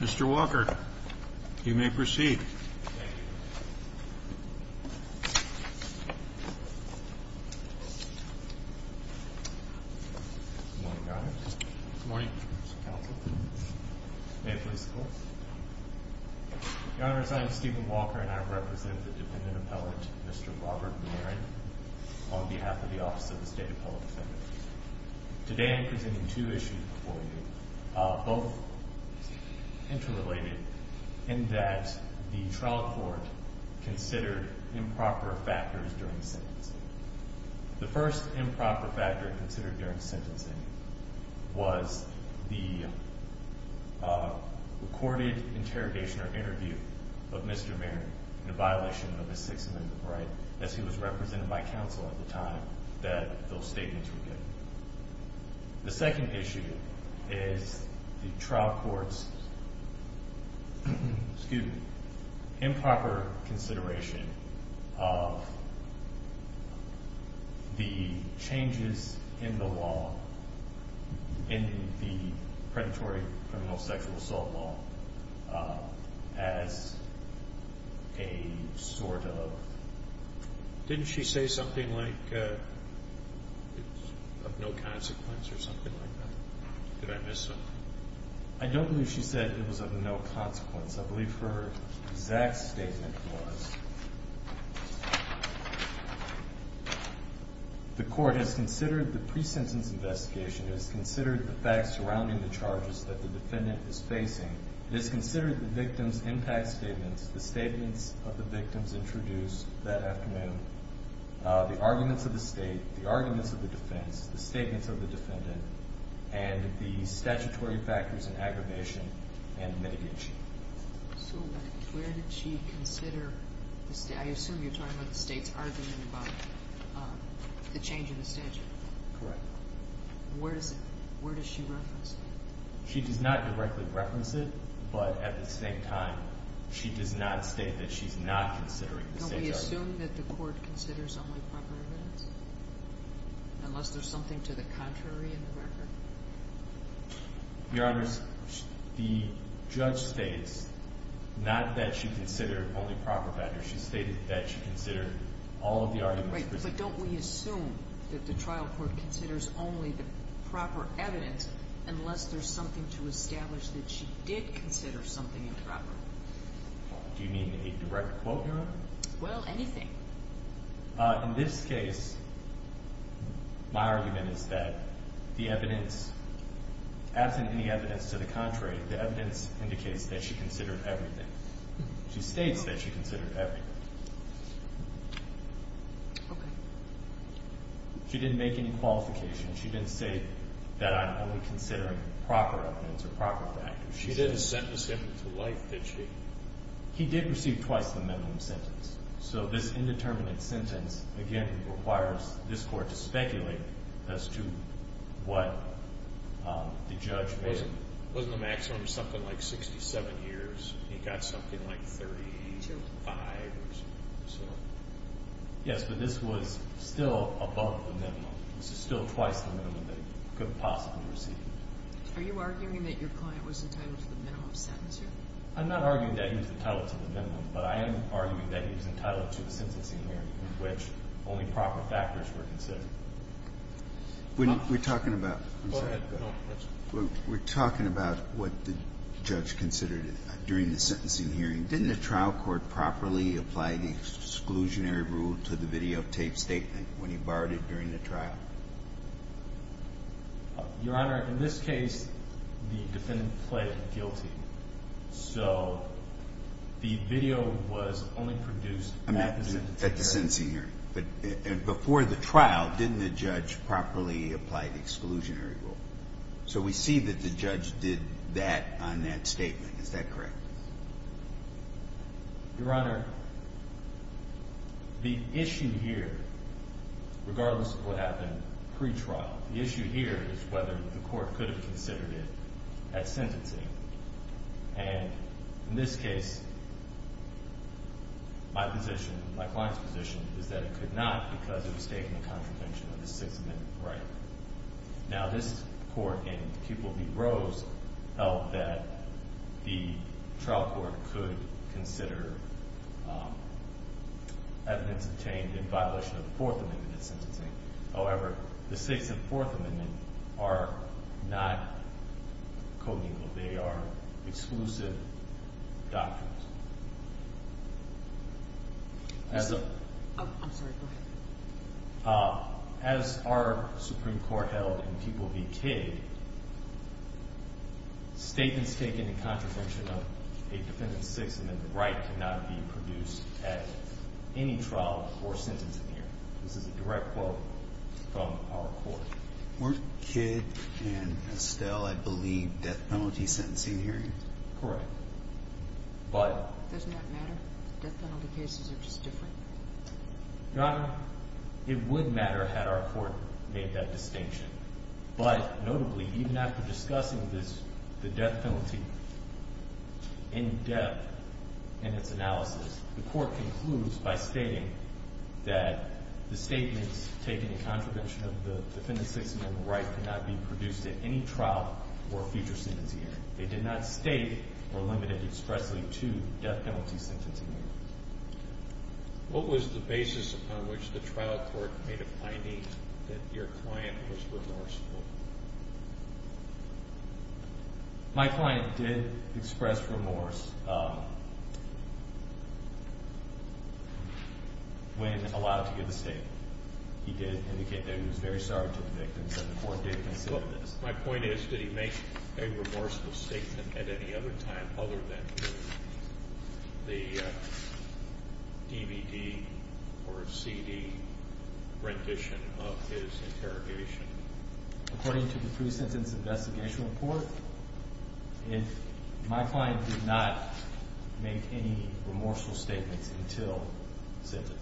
Mr. Walker, you may proceed. Good morning, Mr. Counsel. May I please call? Your Honor, as I am Stephen Walker, and I represent the defendant appellate, Mr. Robert Maron, on behalf of the Office of the State Appellate Defendant. Today I'm presenting two issues before you, both interrelated in that the trial court considered improper factors during sentencing. The first improper factor considered during sentencing was the recorded interrogation or interview of Mr. Maron in a violation of his Sixth Amendment right, as he was represented by counsel at the time that those statements were given. The second issue is the trial court's improper consideration of the changes in the law, in the predatory criminal sexual assault law, as a sort of… of no consequence or something like that. Did I miss something? I don't believe she said it was of no consequence. I believe her exact statement was, the court has considered the pre-sentence investigation, has considered the facts surrounding the charges that the defendant is facing, has considered the victim's impact statements, the statements of the victims introduced that afternoon, the arguments of the State, the arguments of the defense, the statements of the defendant, and the statutory factors in aggravation and mitigation. So where did she consider… I assume you're talking about the State's argument about the change in the statute. Correct. Where does she reference that? She does not directly reference it, but at the same time, she does not state that she's not considering the State's argument. Don't we assume that the court considers only proper evidence, unless there's something to the contrary in the record? Your Honor, the judge states not that she considered only proper factors. She stated that she considered all of the arguments… Right, but don't we assume that the trial court considers only the proper evidence, unless there's something to establish that she did consider something improper? Do you mean a direct quote, Your Honor? Well, anything. In this case, my argument is that the evidence, absent any evidence to the contrary, the evidence indicates that she considered everything. She states that she considered everything. Okay. She didn't make any qualifications. She didn't say that I'm only considering proper evidence or proper factors. She didn't sentence him to life, did she? He did receive twice the minimum sentence. So this indeterminate sentence, again, requires this court to speculate as to what the judge made. Wasn't the maximum something like 67 years? He got something like 35 or so? Yes, but this was still above the minimum. This is still twice the minimum that he could have possibly received. Are you arguing that your client was entitled to the minimum sentence here? I'm not arguing that he was entitled to the minimum, but I am arguing that he was entitled to a sentencing hearing in which only proper factors were considered. We're talking about what the judge considered during the sentencing hearing. Didn't the trial court properly apply the exclusionary rule to the videotape statement when he borrowed it during the trial? Your Honor, in this case, the defendant pled guilty. So the video was only produced at the sentencing hearing? At the sentencing hearing. But before the trial, didn't the judge properly apply the exclusionary rule? So we see that the judge did that on that statement. Is that correct? Your Honor, the issue here, regardless of what happened pre-trial, the issue here is whether the court could have considered it at sentencing. And in this case, my client's position is that it could not because it was taken in contravention of the Sixth Amendment right. Now, this court in Pupil v. Rose held that the trial court could consider evidence obtained in violation of the Fourth Amendment at sentencing. However, the Sixth and Fourth Amendment are not code legal. They are exclusive documents. I'm sorry, go ahead. As our Supreme Court held in Pupil v. Cade, statements taken in contravention of a defendant's Sixth Amendment right cannot be produced at any trial or sentencing hearing. This is a direct quote from our court. Weren't Cade and Estelle, I believe, death penalty sentencing hearings? Correct. Doesn't that matter? Death penalty cases are just different? Your Honor, it would matter had our court made that distinction. But notably, even after discussing the death penalty in depth in its analysis, the court concludes by stating that the statements taken in contravention of the defendant's Sixth Amendment right cannot be produced at any trial or future sentencing hearing. They did not state or limit it expressly to death penalty sentencing hearing. What was the basis upon which the trial court made a finding that your client was remorseful? My client did express remorse when allowed to give the statement. He did indicate that he was very sorry to the victims and the court did consider this. My point is, did he make a remorseful statement at any other time other than the DVD or CD rendition of his interrogation? According to the pre-sentence investigation report, my client did not make any remorseful statements until sentencing.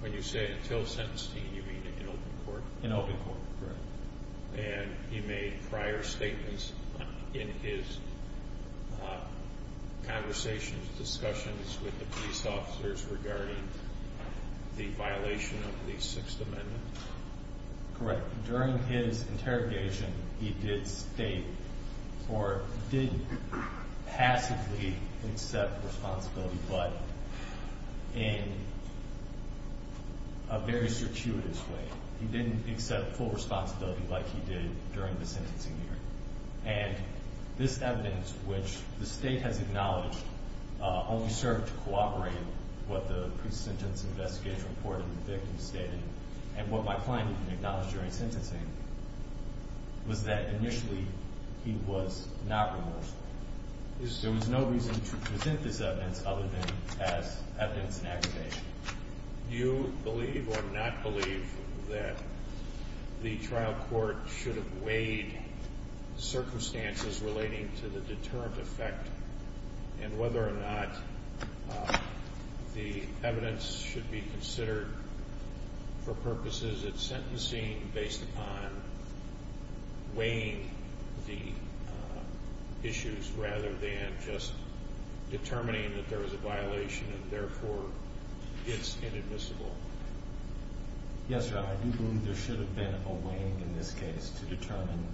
When you say until sentencing, you mean in open court? In open court, correct. And he made prior statements in his conversations, discussions with the police officers regarding the violation of the Sixth Amendment? Correct. During his interrogation, he did state or did passively accept responsibility but in a very circuitous way. He didn't accept full responsibility like he did during the sentencing hearing. And this evidence, which the state has acknowledged, only served to cooperate what the pre-sentence investigation report of the victim stated. And what my client acknowledged during sentencing was that initially he was not remorseful. There was no reason to present this evidence other than as evidence in aggravation. Do you believe or not believe that the trial court should have weighed circumstances relating to the deterrent effect and whether or not the evidence should be considered for purposes of sentencing based upon weighing the issues rather than just determining that there was a violation and therefore it's inadmissible? Yes, Your Honor, I do believe there should have been a weighing in this case to determine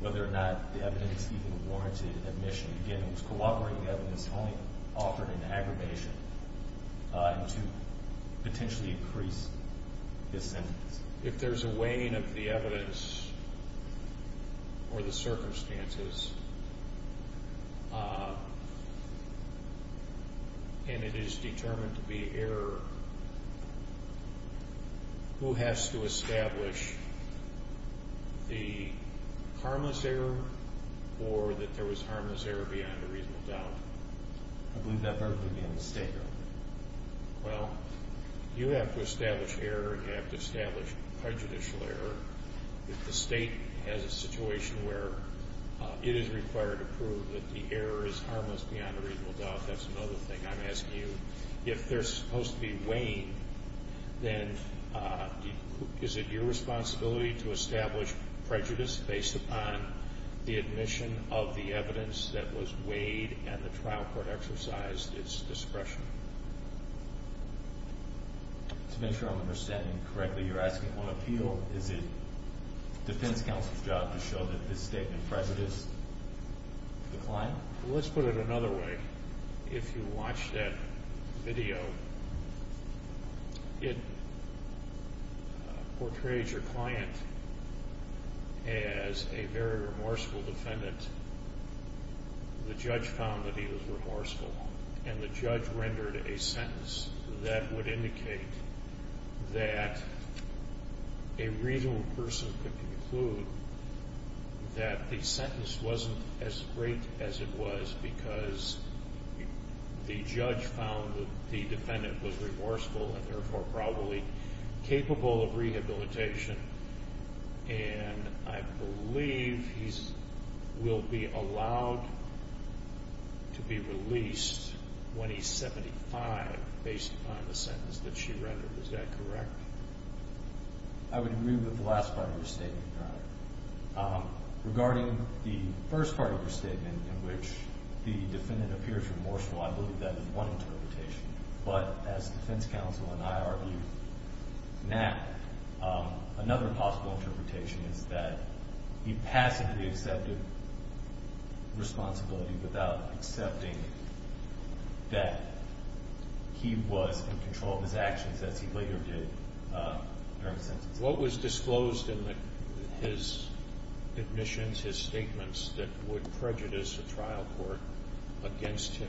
whether or not the evidence even warranted admission. Again, it was cooperating evidence only offered in aggravation to potentially increase his sentence. If there's a weighing of the evidence or the circumstances and it is determined to be error, who has to establish the harmless error or that there was harmless error beyond a reasonable doubt? I believe that verdict would be on the state, Your Honor. Well, you have to establish error and you have to establish prejudicial error. If the state has a situation where it is required to prove that the error is harmless beyond a reasonable doubt, that's another thing I'm asking you. If there's supposed to be weighing, then is it your responsibility to establish prejudice based upon the admission of the evidence that was weighed and the trial court exercised its discretion? To make sure I'm understanding correctly, you're asking on appeal? Is it defense counsel's job to show that this statement prejudiced the client? Let's put it another way. If you watch that video, it portrays your client as a very remorseful defendant. The judge found that he was remorseful and the judge rendered a sentence that would indicate that a reasonable person could conclude that the sentence wasn't as great as it was because the judge found that the defendant was remorseful and therefore probably capable of rehabilitation. And I believe he will be allowed to be released when he's 75 based upon the sentence that she rendered. Is that correct? I would agree with the last part of your statement, Your Honor. Regarding the first part of your statement in which the defendant appears remorseful, I believe that is one interpretation. But as defense counsel and I argue now, another possible interpretation is that he passively accepted responsibility without accepting that he was in control of his actions as he later did during the sentence. What was disclosed in his admissions, his statements that would prejudice a trial court against him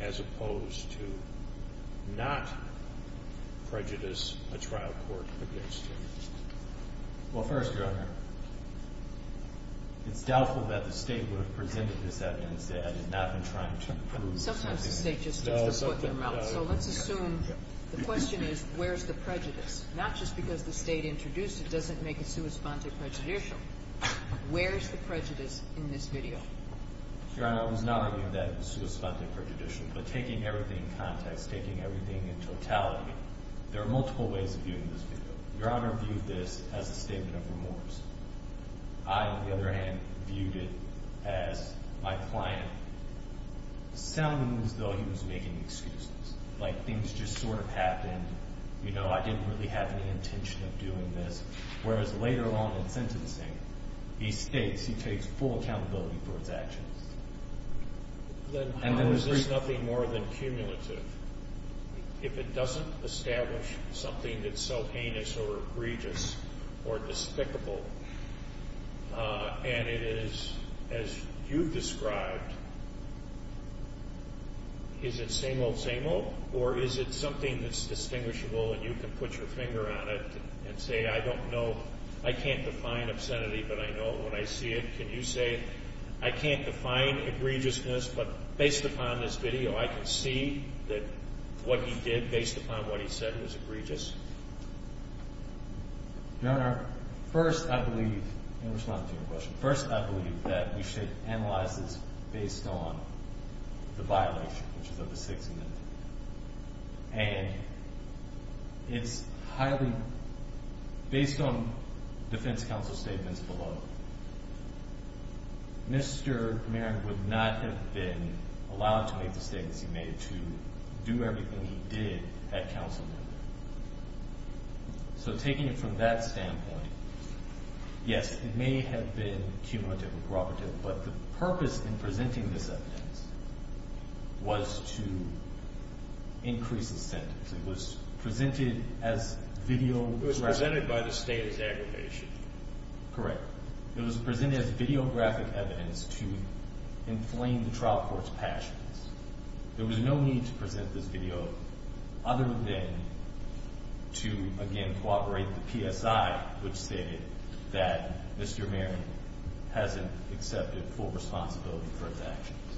as opposed to not prejudice a trial court against him? Well, first, Your Honor, it's doubtful that the State would have presented this evidence that it had not been trying to prove something. Sometimes the State just takes the court to their mouth. So let's assume the question is where's the prejudice? Not just because the State introduced it doesn't make it sui sponte prejudicial. Where's the prejudice in this video? Your Honor, I was not arguing that it was sui sponte prejudicial. But taking everything in context, taking everything in totality, there are multiple ways of viewing this video. Your Honor viewed this as a statement of remorse. I, on the other hand, viewed it as my client sounding as though he was making excuses, like things just sort of happened, you know, I didn't really have any intention of doing this. Whereas later on in sentencing, he states he takes full accountability for his actions. Then how is this nothing more than cumulative? If it doesn't establish something that's so heinous or egregious or despicable, and it is, as you've described, is it same old, same old? Or is it something that's distinguishable and you can put your finger on it and say, I don't know, I can't define obscenity, but I know it when I see it. Can you say, I can't define egregiousness, but based upon this video, I can see that what he did based upon what he said was egregious? Your Honor, first I believe, in response to your question, first I believe that we should analyze this based on the violation, which is of the 6th Amendment. And it's highly, based on defense counsel statements below, Mr. Marin would not have been allowed to make the statements he made to do everything he did at counsel level. So taking it from that standpoint, yes, it may have been cumulative or cooperative, but the purpose in presenting this evidence was to increase the sentence. It was presented as video. It was presented by the state as aggravation. Correct. It was presented as videographic evidence to inflame the trial court's passions. There was no need to present this video other than to, again, cooperate with PSI, which stated that Mr. Marin hasn't accepted full responsibility for his actions.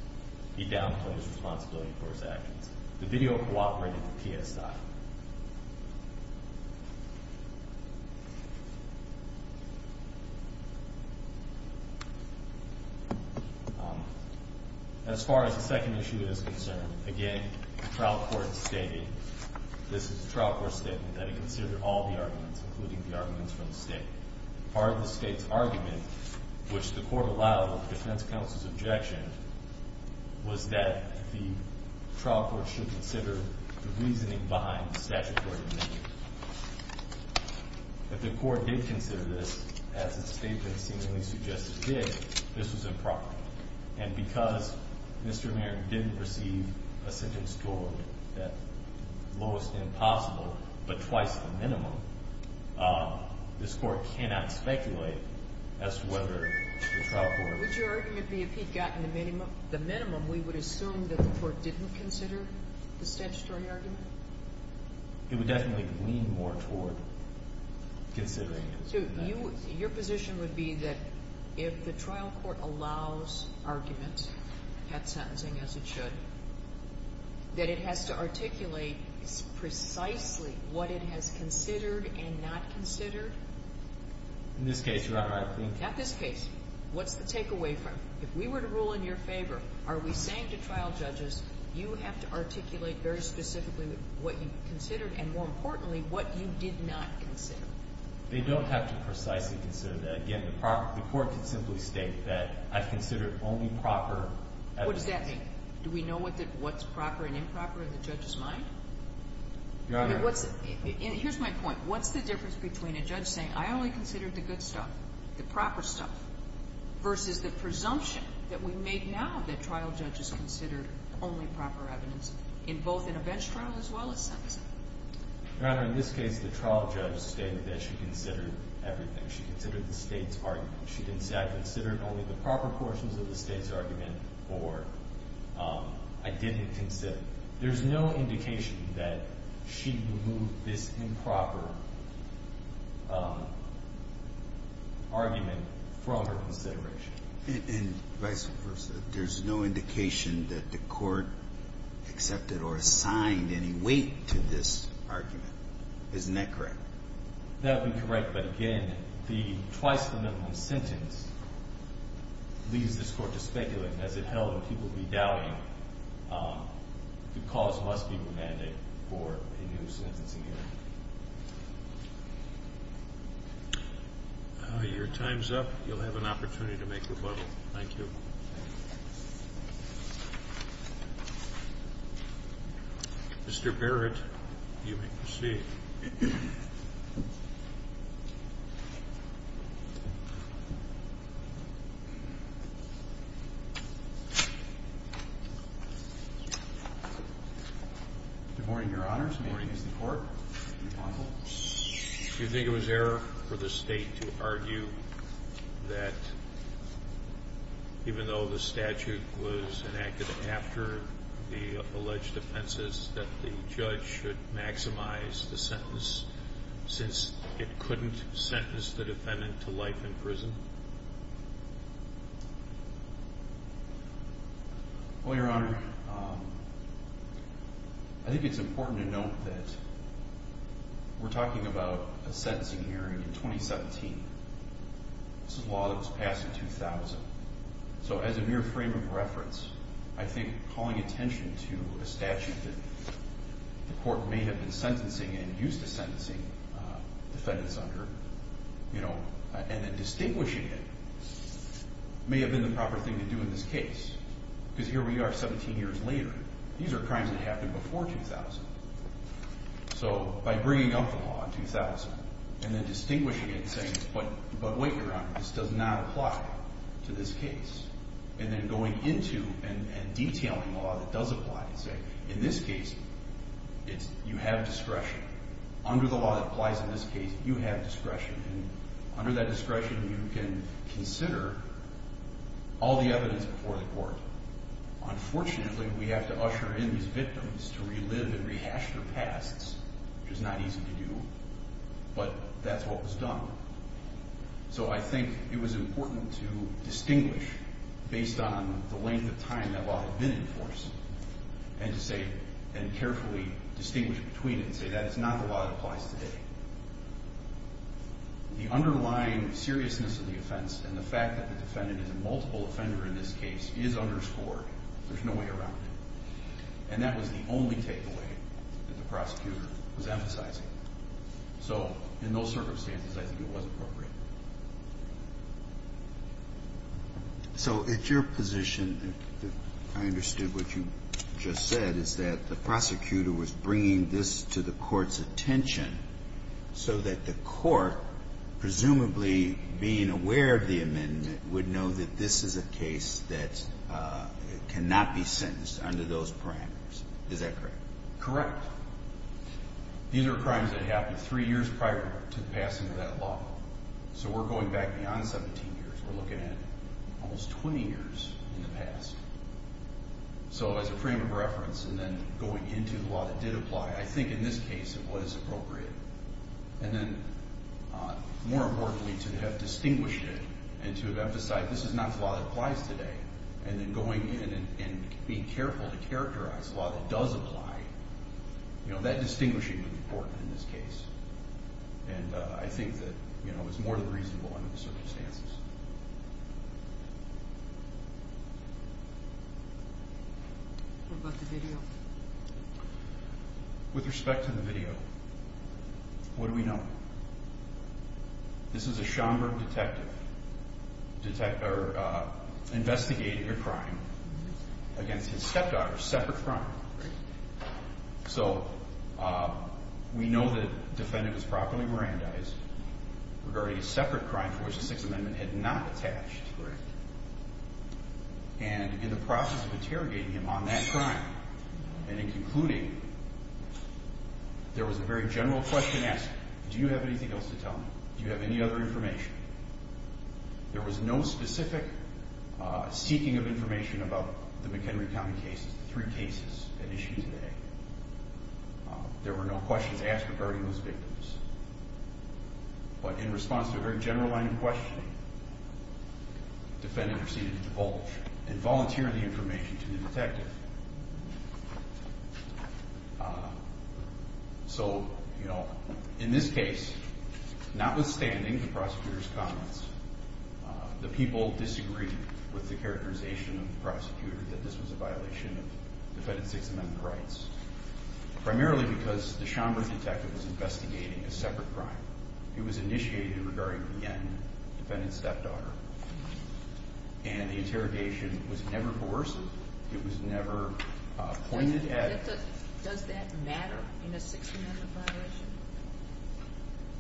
He downplays responsibility for his actions. The video cooperated with PSI. As far as the second issue is concerned, again, the trial court stated, this is the trial court statement, that it considered all the arguments, including the arguments from the state. Part of the state's argument, which the court allowed of the defense counsel's objection, was that the trial court should consider the reasoning behind the statutory amendment. If the court did consider this, as its statement seemingly suggests it did, this was improper. And because Mr. Marin didn't receive a sentence scored at the lowest end possible but twice the minimum, this court cannot speculate as to whether the trial court Would your argument be if he'd gotten the minimum, we would assume that the court didn't consider the statutory argument? It would definitely lean more toward considering it. So your position would be that if the trial court allows argument at sentencing, as it should, that it has to articulate precisely what it has considered and not considered? In this case, Your Honor, I think Not this case. What's the takeaway from it? If we were to rule in your favor, are we saying to trial judges, you have to articulate very specifically what you considered and, more importantly, what you did not consider? They don't have to precisely consider that. Again, the court can simply state that I've considered only proper evidence. What does that mean? Do we know what's proper and improper in the judge's mind? Your Honor, Here's my point. What's the difference between a judge saying, I only considered the good stuff, the proper stuff, versus the presumption that we make now that trial judges considered only proper evidence, both in a bench trial as well as sentencing? Your Honor, in this case, the trial judge stated that she considered everything. She considered the state's argument. She didn't say, I considered only the proper portions of the state's argument or I didn't consider. There's no indication that she removed this improper argument from her consideration. And vice versa. There's no indication that the court accepted or assigned any weight to this argument. Isn't that correct? That would be correct. But, again, the twice the minimum sentence leaves this court to speculate as it held he will be doubting the cause must be remanded for a new sentencing hearing. Your time's up. You'll have an opportunity to make rebuttal. Thank you. Mr. Barrett, you may proceed. Good morning, Your Honor. Good morning. This is the court. Do you think it was error for the state to argue that even though the statute was enacted after the alleged offenses that the judge should maximize the sentence since it couldn't sentence the defendant to life in prison? Well, Your Honor, I think it's important to note that we're talking about a sentencing hearing in 2017. This is a law that was passed in 2000. So as a mere frame of reference, I think calling attention to a statute that the court may have been sentencing and used to sentencing defendants under and then distinguishing it may have been the proper thing to do in this case. Because here we are 17 years later. These are crimes that happened before 2000. So by bringing up the law in 2000 and then distinguishing it and saying, but wait, Your Honor, this does not apply to this case, and then going into and detailing a law that does apply and saying, in this case, you have discretion. Under the law that applies in this case, you have discretion. And under that discretion, you can consider all the evidence before the court. Unfortunately, we have to usher in these victims to relive and rehash their pasts, which is not easy to do. But that's what was done. So I think it was important to distinguish based on the length of time that law had been in force and carefully distinguish between it and say that is not the law that applies today. The underlying seriousness of the offense and the fact that the defendant is a multiple offender in this case is underscored. There's no way around it. And that was the only takeaway that the prosecutor was emphasizing. So in those circumstances, I think it was appropriate. So it's your position that I understood what you just said is that the prosecutor was bringing this to the court's attention so that the court, presumably being aware of the amendment, would know that this is a case that cannot be sentenced under those parameters. Is that correct? Correct. These are crimes that happened three years prior to the passing of that law. So we're going back beyond 17 years. We're looking at almost 20 years in the past. So as a frame of reference, and then going into the law that did apply, I think in this case it was appropriate. And then, more importantly, to have distinguished it and to have emphasized this is not the law that applies today. And then going in and being careful to characterize the law that does apply, that distinguishing would be important in this case. And I think that it's more than reasonable under the circumstances. What about the video? With respect to the video, what do we know? This is a Schomburg detective investigating a crime against his stepdaughter, a separate crime. So we know the defendant was properly Mirandized regarding a separate crime for which the Sixth Amendment had not attached. And in the process of interrogating him on that crime and in concluding, there was a very general question asked. Do you have anything else to tell me? Do you have any other information? There was no specific seeking of information about the McHenry County cases, the three cases at issue today. There were no questions asked regarding those victims. But in response to a very general line of questioning, the defendant proceeded to divulge and volunteer the information to the detective. So, you know, in this case, notwithstanding the prosecutor's comments, the people disagreed with the characterization of the prosecutor that this was a violation of Defendant Sixth Amendment rights. Primarily because the Schomburg detective was investigating a separate crime. It was initiated regarding the young defendant's stepdaughter. And the interrogation was never coercive. It was never pointed at. Does that matter in a Sixth Amendment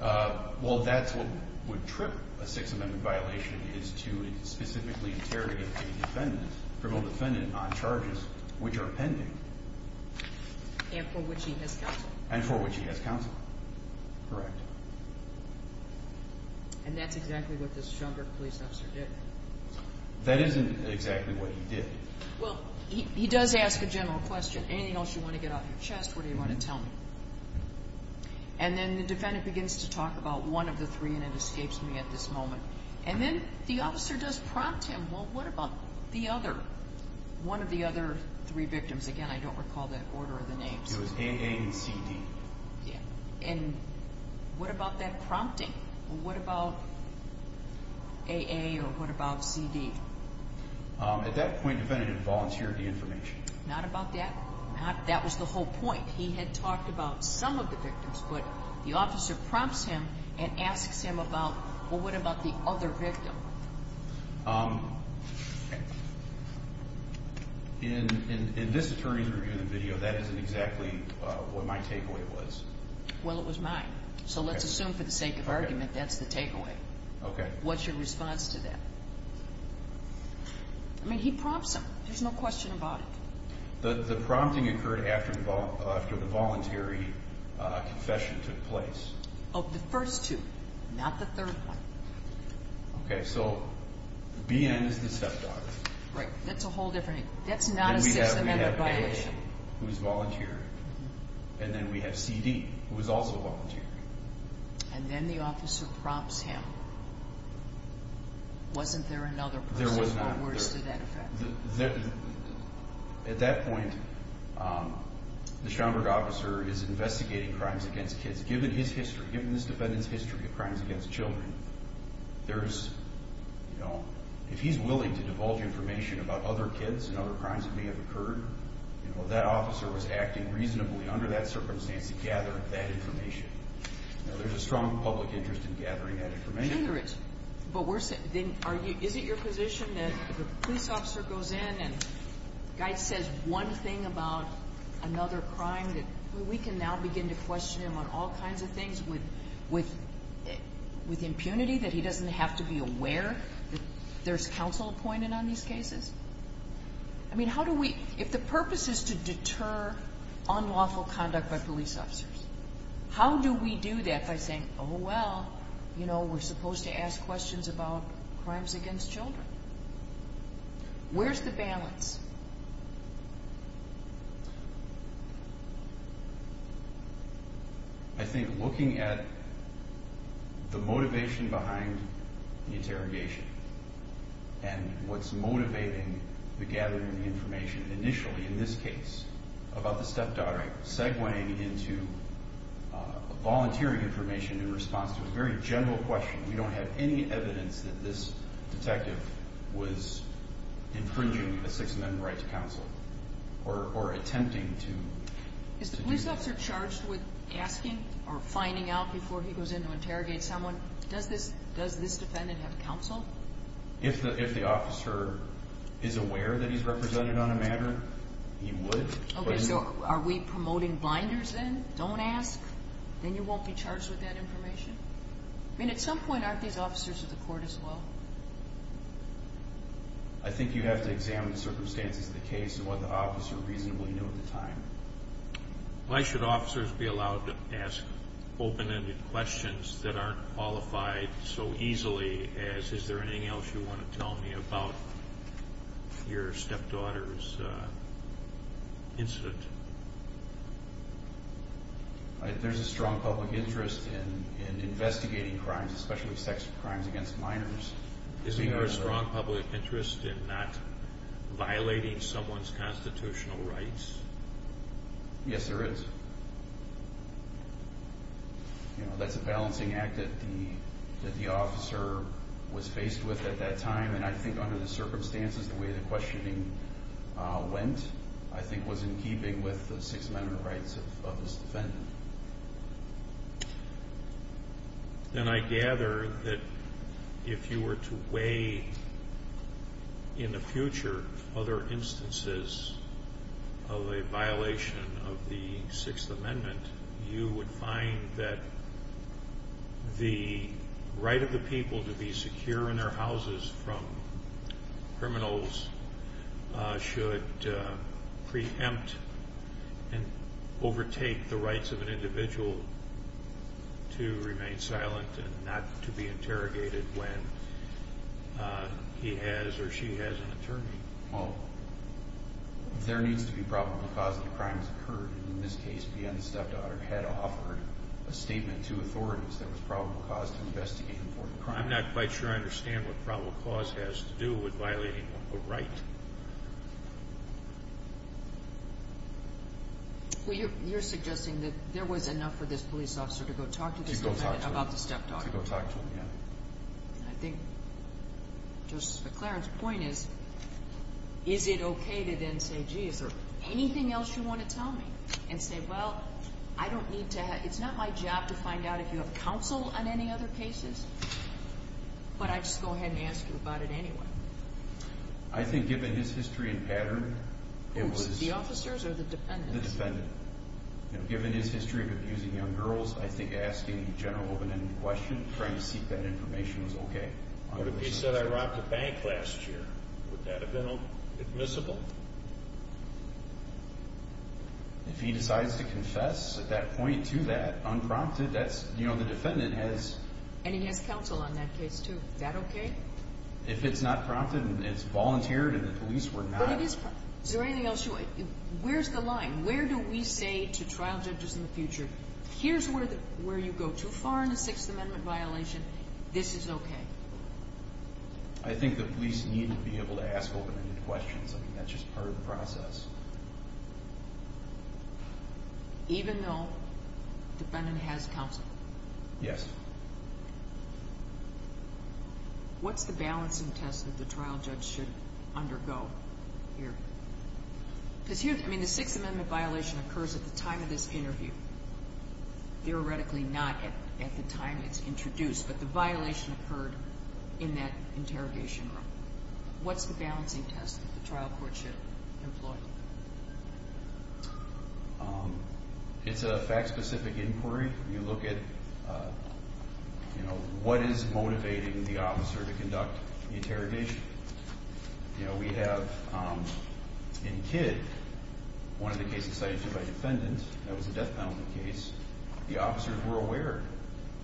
violation? Well, that's what would trip a Sixth Amendment violation, is to specifically interrogate a defendant, a criminal defendant, on charges which are pending. And for which he has counsel. And for which he has counsel. Correct. And that's exactly what this Schomburg police officer did. That isn't exactly what he did. Well, he does ask a general question. Anything else you want to get out of your chest? What do you want to tell me? And then the defendant begins to talk about one of the three, and it escapes me at this moment. And then the officer does prompt him, well, what about the other, one of the other three victims? Again, I don't recall the order of the names. It was A.A. and C.D. And what about that prompting? What about A.A. or what about C.D.? At that point, the defendant had volunteered the information. Not about that. That was the whole point. He had talked about some of the victims, but the officer prompts him and asks him about, well, what about the other victim? In this attorney's review of the video, that isn't exactly what my takeaway was. Well, it was mine. So let's assume for the sake of argument, that's the takeaway. Okay. What's your response to that? I mean, he prompts him. There's no question about it. The prompting occurred after the voluntary confession took place. Of the first two, not the third one. Okay. So B.N. is the stepdaughter. Right. That's a whole different, that's not a sex offender violation. And we have A.A. who has volunteered. And then we have C.D. who has also volunteered. And then the officer prompts him. Wasn't there another person who was to that effect? There was not another. At that point, the Schaumburg officer is investigating crimes against kids. Given his history, given this defendant's history of crimes against children, if he's willing to divulge information about other kids and other crimes that may have occurred, that officer was acting reasonably under that circumstance to gather that information. There's a strong public interest in gathering that information. But is it your position that the police officer goes in and says one thing about another crime, that we can now begin to question him on all kinds of things with impunity, that he doesn't have to be aware that there's counsel appointed on these cases? I mean, how do we, if the purpose is to deter unlawful conduct by police officers, how do we do that by saying, oh, well, you know, we're supposed to ask questions about crimes against children? Where's the balance? I think looking at the motivation behind the interrogation and what's motivating the gathering of information initially in this case about the stepdaughter, segueing into volunteering information in response to a very general question, we don't have any evidence that this detective was infringing a Sixth Amendment right to counsel or attempting to. Is the police officer charged with asking or finding out before he goes in to interrogate someone, does this defendant have counsel? If the officer is aware that he's represented on a matter, he would. Okay, so are we promoting blinders then? Don't ask? Then you won't be charged with that information? I mean, at some point, aren't these officers at the court as well? I think you have to examine the circumstances of the case and what the officer reasonably knew at the time. Why should officers be allowed to ask open-ended questions that aren't qualified so easily as is there anything else you want to tell me about your stepdaughter's incident? There's a strong public interest in investigating crimes, especially sex crimes against minors. Isn't there a strong public interest in not violating someone's constitutional rights? Yes, there is. That's a balancing act that the officer was faced with at that time, and I think under the circumstances, the way the questioning went, I think was in keeping with the Sixth Amendment rights of this defendant. Then I gather that if you were to weigh in the future other instances of a violation of the Sixth Amendment, you would find that the right of the people to be secure in their houses from criminals should preempt and overtake the rights of an individual to remain silent and not to be interrogated when he has or she has an attorney. Well, there needs to be probable cause that a crime has occurred. In this case, the stepdaughter had offered a statement to authorities that was probable cause to investigate an important crime. I'm not quite sure I understand what probable cause has to do with violating a right. Well, you're suggesting that there was enough for this police officer to go talk to this defendant about the stepdaughter. To go talk to him, yeah. I think Justice McClaren's point is, is it okay to then say, gee, is there anything else you want to tell me? And say, well, it's not my job to find out if you have counsel on any other cases, but I'd just go ahead and ask you about it anyway. I think given his history and pattern, it was... The officers or the defendant? The defendant. Given his history of abusing young girls, I think asking a general open-ended question, trying to seek that information was okay. But if he said, I robbed a bank last year, would that have been admissible? If he decides to confess at that point to that, unprompted, that's... You know, the defendant has... And he has counsel on that case, too. Is that okay? If it's not prompted and it's volunteered and the police were not... But it is... Is there anything else you... Where's the line? Where do we say to trial judges in the future, here's where you go too far in a Sixth Amendment violation, this is okay? I think the police need to be able to ask open-ended questions. I mean, that's just part of the process. Even though the defendant has counsel? Yes. What's the balancing test that the trial judge should undergo here? Because here... I mean, the Sixth Amendment violation occurs at the time of this interview. Theoretically not at the time it's introduced, but the violation occurred in that interrogation room. What's the balancing test that the trial court should employ? It's a fact-specific inquiry. You look at, you know, what is motivating the officer to conduct the interrogation. You know, we have in Kidd, one of the cases cited by the defendant, that was a death penalty case, the officers were aware.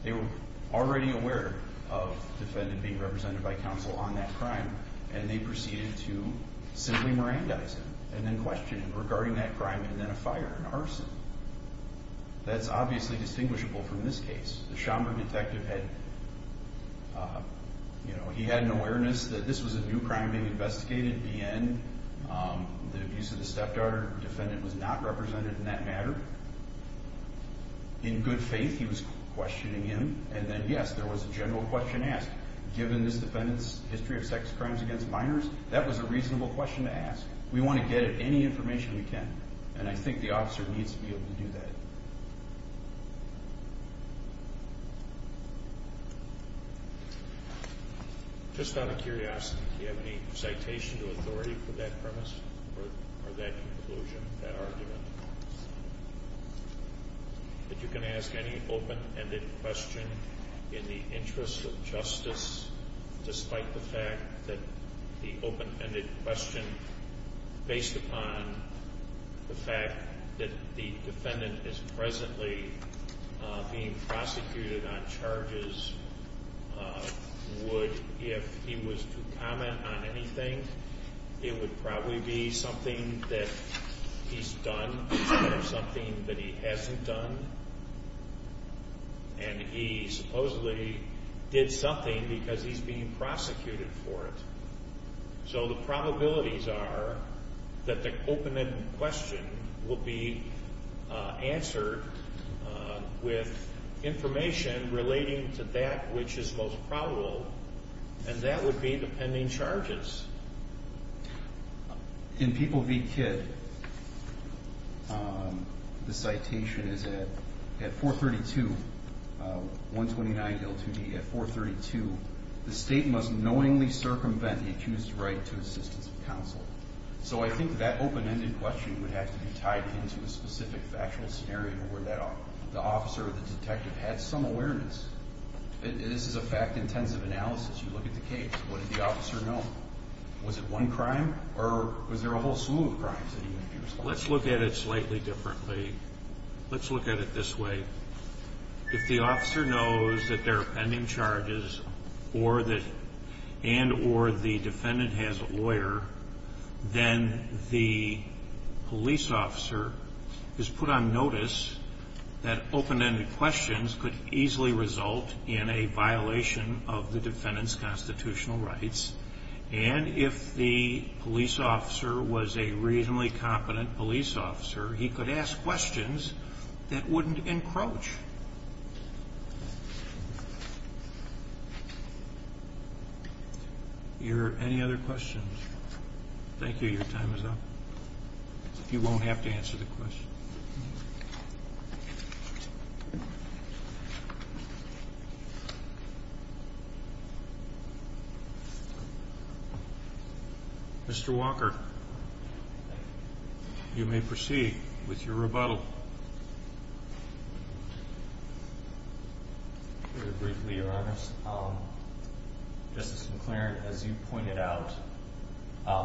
They were already aware of the defendant being represented by counsel on that crime and they proceeded to simply Mirandize him and then question him regarding that crime and then a fire and arson. That's obviously distinguishable from this case. The Chamba detective had, you know, he had an awareness that this was a new crime being investigated, BN, the abuse of the stepdaughter, the defendant was not represented in that matter. In good faith, he was questioning him. And then, yes, there was a general question asked. Given this defendant's history of sex crimes against minors, that was a reasonable question to ask. We want to get at any information we can. And I think the officer needs to be able to do that. Just out of curiosity, do you have any citation to authority for that premise or that conclusion, that argument? That you can ask any open-ended question in the interest of justice, despite the fact that the open-ended question, based upon the fact that the defendant is presently being prosecuted on charges, would, if he was to comment on anything, it would probably be something that he's done or something that he hasn't done. And he supposedly did something because he's being prosecuted for it. So the probabilities are that the open-ended question will be answered with information relating to that which is most probable, and that would be the pending charges. In People v. Kidd, the citation is at 432, 129 L2D, at 432, the state must knowingly circumvent the accused's right to assistance of counsel. So I think that open-ended question would have to be tied into a specific factual scenario where the officer or the detective had some awareness. This is a fact-intensive analysis. You look at the case. What did the officer know? Was it one crime, or was there a whole slew of crimes that he may be responsible for? Let's look at it slightly differently. Let's look at it this way. If the officer knows that there are pending charges and or the defendant has a lawyer, then the police officer is put on notice that open-ended questions could easily result in a violation of the defendant's constitutional rights. And if the police officer was a reasonably competent police officer, he could ask questions that wouldn't encroach. Are there any other questions? Thank you. Your time is up. You won't have to answer the question. Mr. Walker, you may proceed with your rebuttal. Very briefly, Your Honor. Justice McLaren, as you pointed out,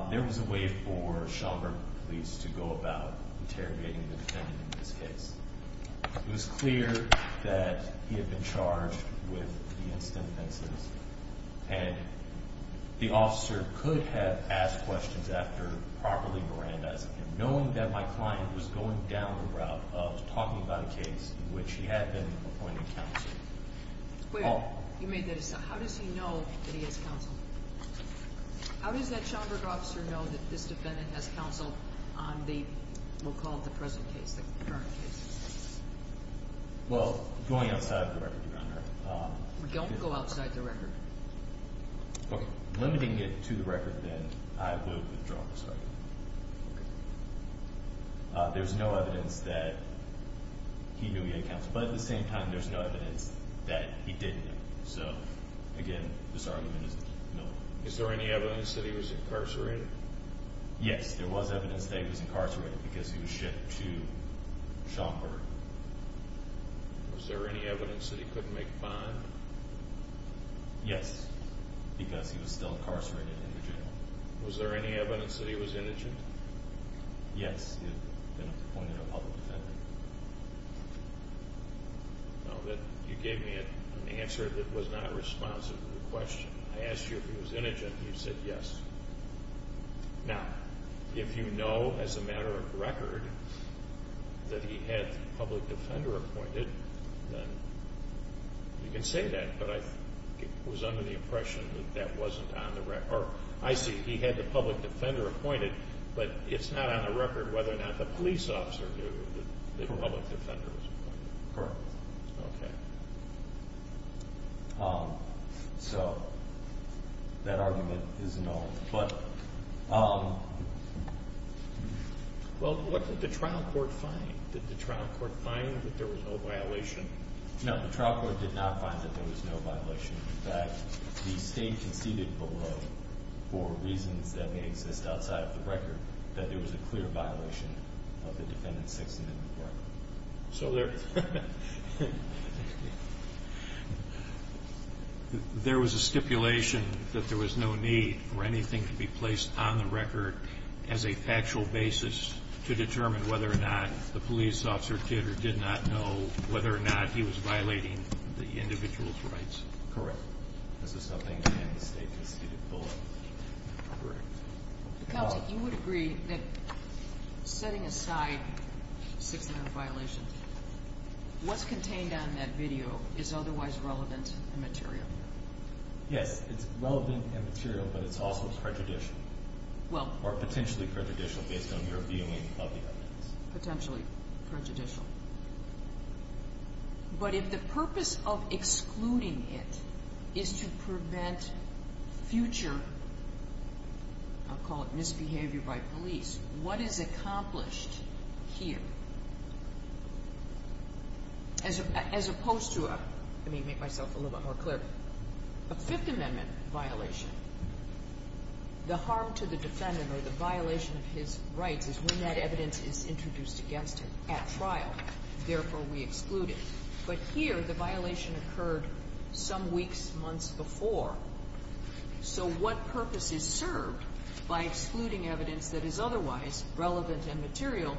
there was a way for Schomburg police to go about interrogating the defendant in this case. It was clear that he had been charged with the instances and the officer could have asked questions after properly Mirandizing him, knowing that my client was going down the route of talking about a case in which he had been appointed counsel. You made that assumption. How does he know that he has counsel? How does that Schomburg officer know that this defendant has counsel on the, we'll call it the present case, the current case? Don't go outside the record. Okay. Limiting it to the record, then, I will withdraw this argument. There's no evidence that he knew he had counsel. But at the same time, there's no evidence that he didn't. So, again, this argument is nullified. Is there any evidence that he was incarcerated? Yes, there was evidence that he was incarcerated because he was shipped to Schomburg. Was there any evidence that he couldn't make a bond? Yes, because he was still incarcerated in the jail. Was there any evidence that he was indigent? Yes, he had been appointed a public defendant. Now, you gave me an answer that was not responsive to the question. I asked you if he was indigent, and you said yes. Now, if you know as a matter of record that he had the public defender appointed, then you can say that. But I was under the impression that that wasn't on the record. Or, I see he had the public defender appointed, but it's not on the record whether or not the police officer knew that the public defender was appointed. Correct. Okay. So, that argument is null. Well, what did the trial court find? Did the trial court find that there was no violation? No, the trial court did not find that there was no violation. In fact, the state conceded below, for reasons that may exist outside of the record, that there was a clear violation of the Defendant's Sixth Amendment Court. So, there was a stipulation that there was no need for anything to be placed on the record as a factual basis to determine whether or not the police officer did or did not know whether or not he was violating the individual's rights. Correct. This is something that the state conceded below. Correct. Counsel, you would agree that, setting aside Sixth Amendment violations, what's contained on that video is otherwise relevant and material? Yes, it's relevant and material, but it's also prejudicial. Or potentially prejudicial, based on your viewing of the evidence. Potentially prejudicial. But if the purpose of excluding it is to prevent future, I'll call it misbehavior by police, what is accomplished here? As opposed to a, let me make myself a little bit more clear, a Fifth Amendment violation, the harm to the defendant or the violation of his rights is when that evidence is introduced against him at trial. Therefore, we exclude it. But here, the violation occurred some weeks, months before. So what purpose is served by excluding evidence that is otherwise relevant and material?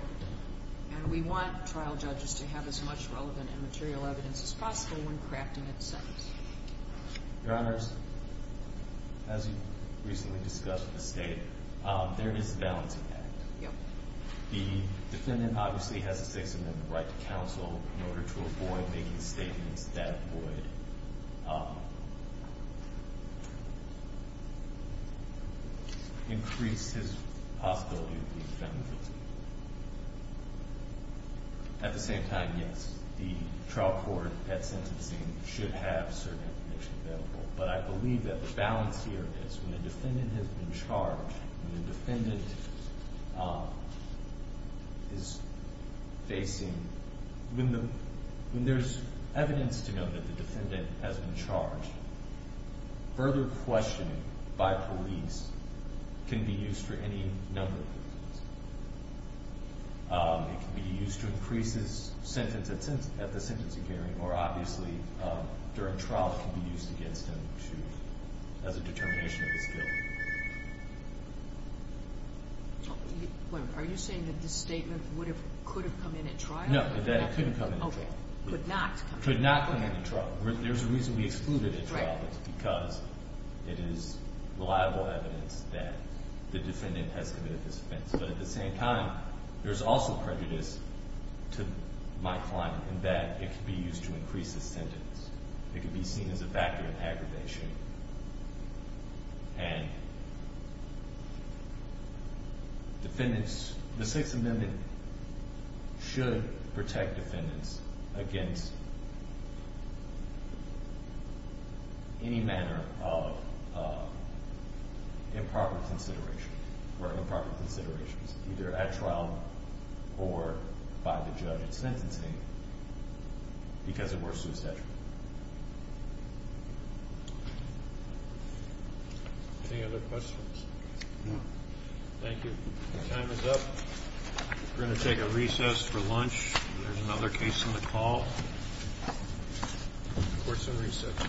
And we want trial judges to have as much relevant and material evidence as possible when crafting a sentence. Your Honors, as you recently discussed with the state, there is a balancing act. The defendant obviously has a Sixth Amendment right to counsel in order to avoid making statements that would increase his possibility of being found guilty. At the same time, yes, the trial court at sentencing should have certain information available. But I believe that the balance here is when the defendant has been charged, when the defendant is facing, when there's evidence to know that the defendant has been charged, further questioning by police can be used for any number of reasons. It can be used to increase his sentence at the sentencing hearing, or obviously, during trial, it can be used against him as a determination of his guilt. Are you saying that this statement could have come in at trial? No, that it couldn't come in at trial. Could not come in at trial. Could not come in at trial. There's a reason we excluded it at trial. Right. Because it is reliable evidence that the defendant has committed this offense. But at the same time, there's also prejudice to my client in that it could be used to increase his sentence. It could be seen as a factor of aggravation. And defendants, the Sixth Amendment should protect defendants against any manner of improper consideration or improper considerations, either at trial or by the judge at sentencing, because it were suicidal. Any other questions? No. Thank you. Time is up. We're going to take a recess for lunch. There's another case on the call. Court's in recess.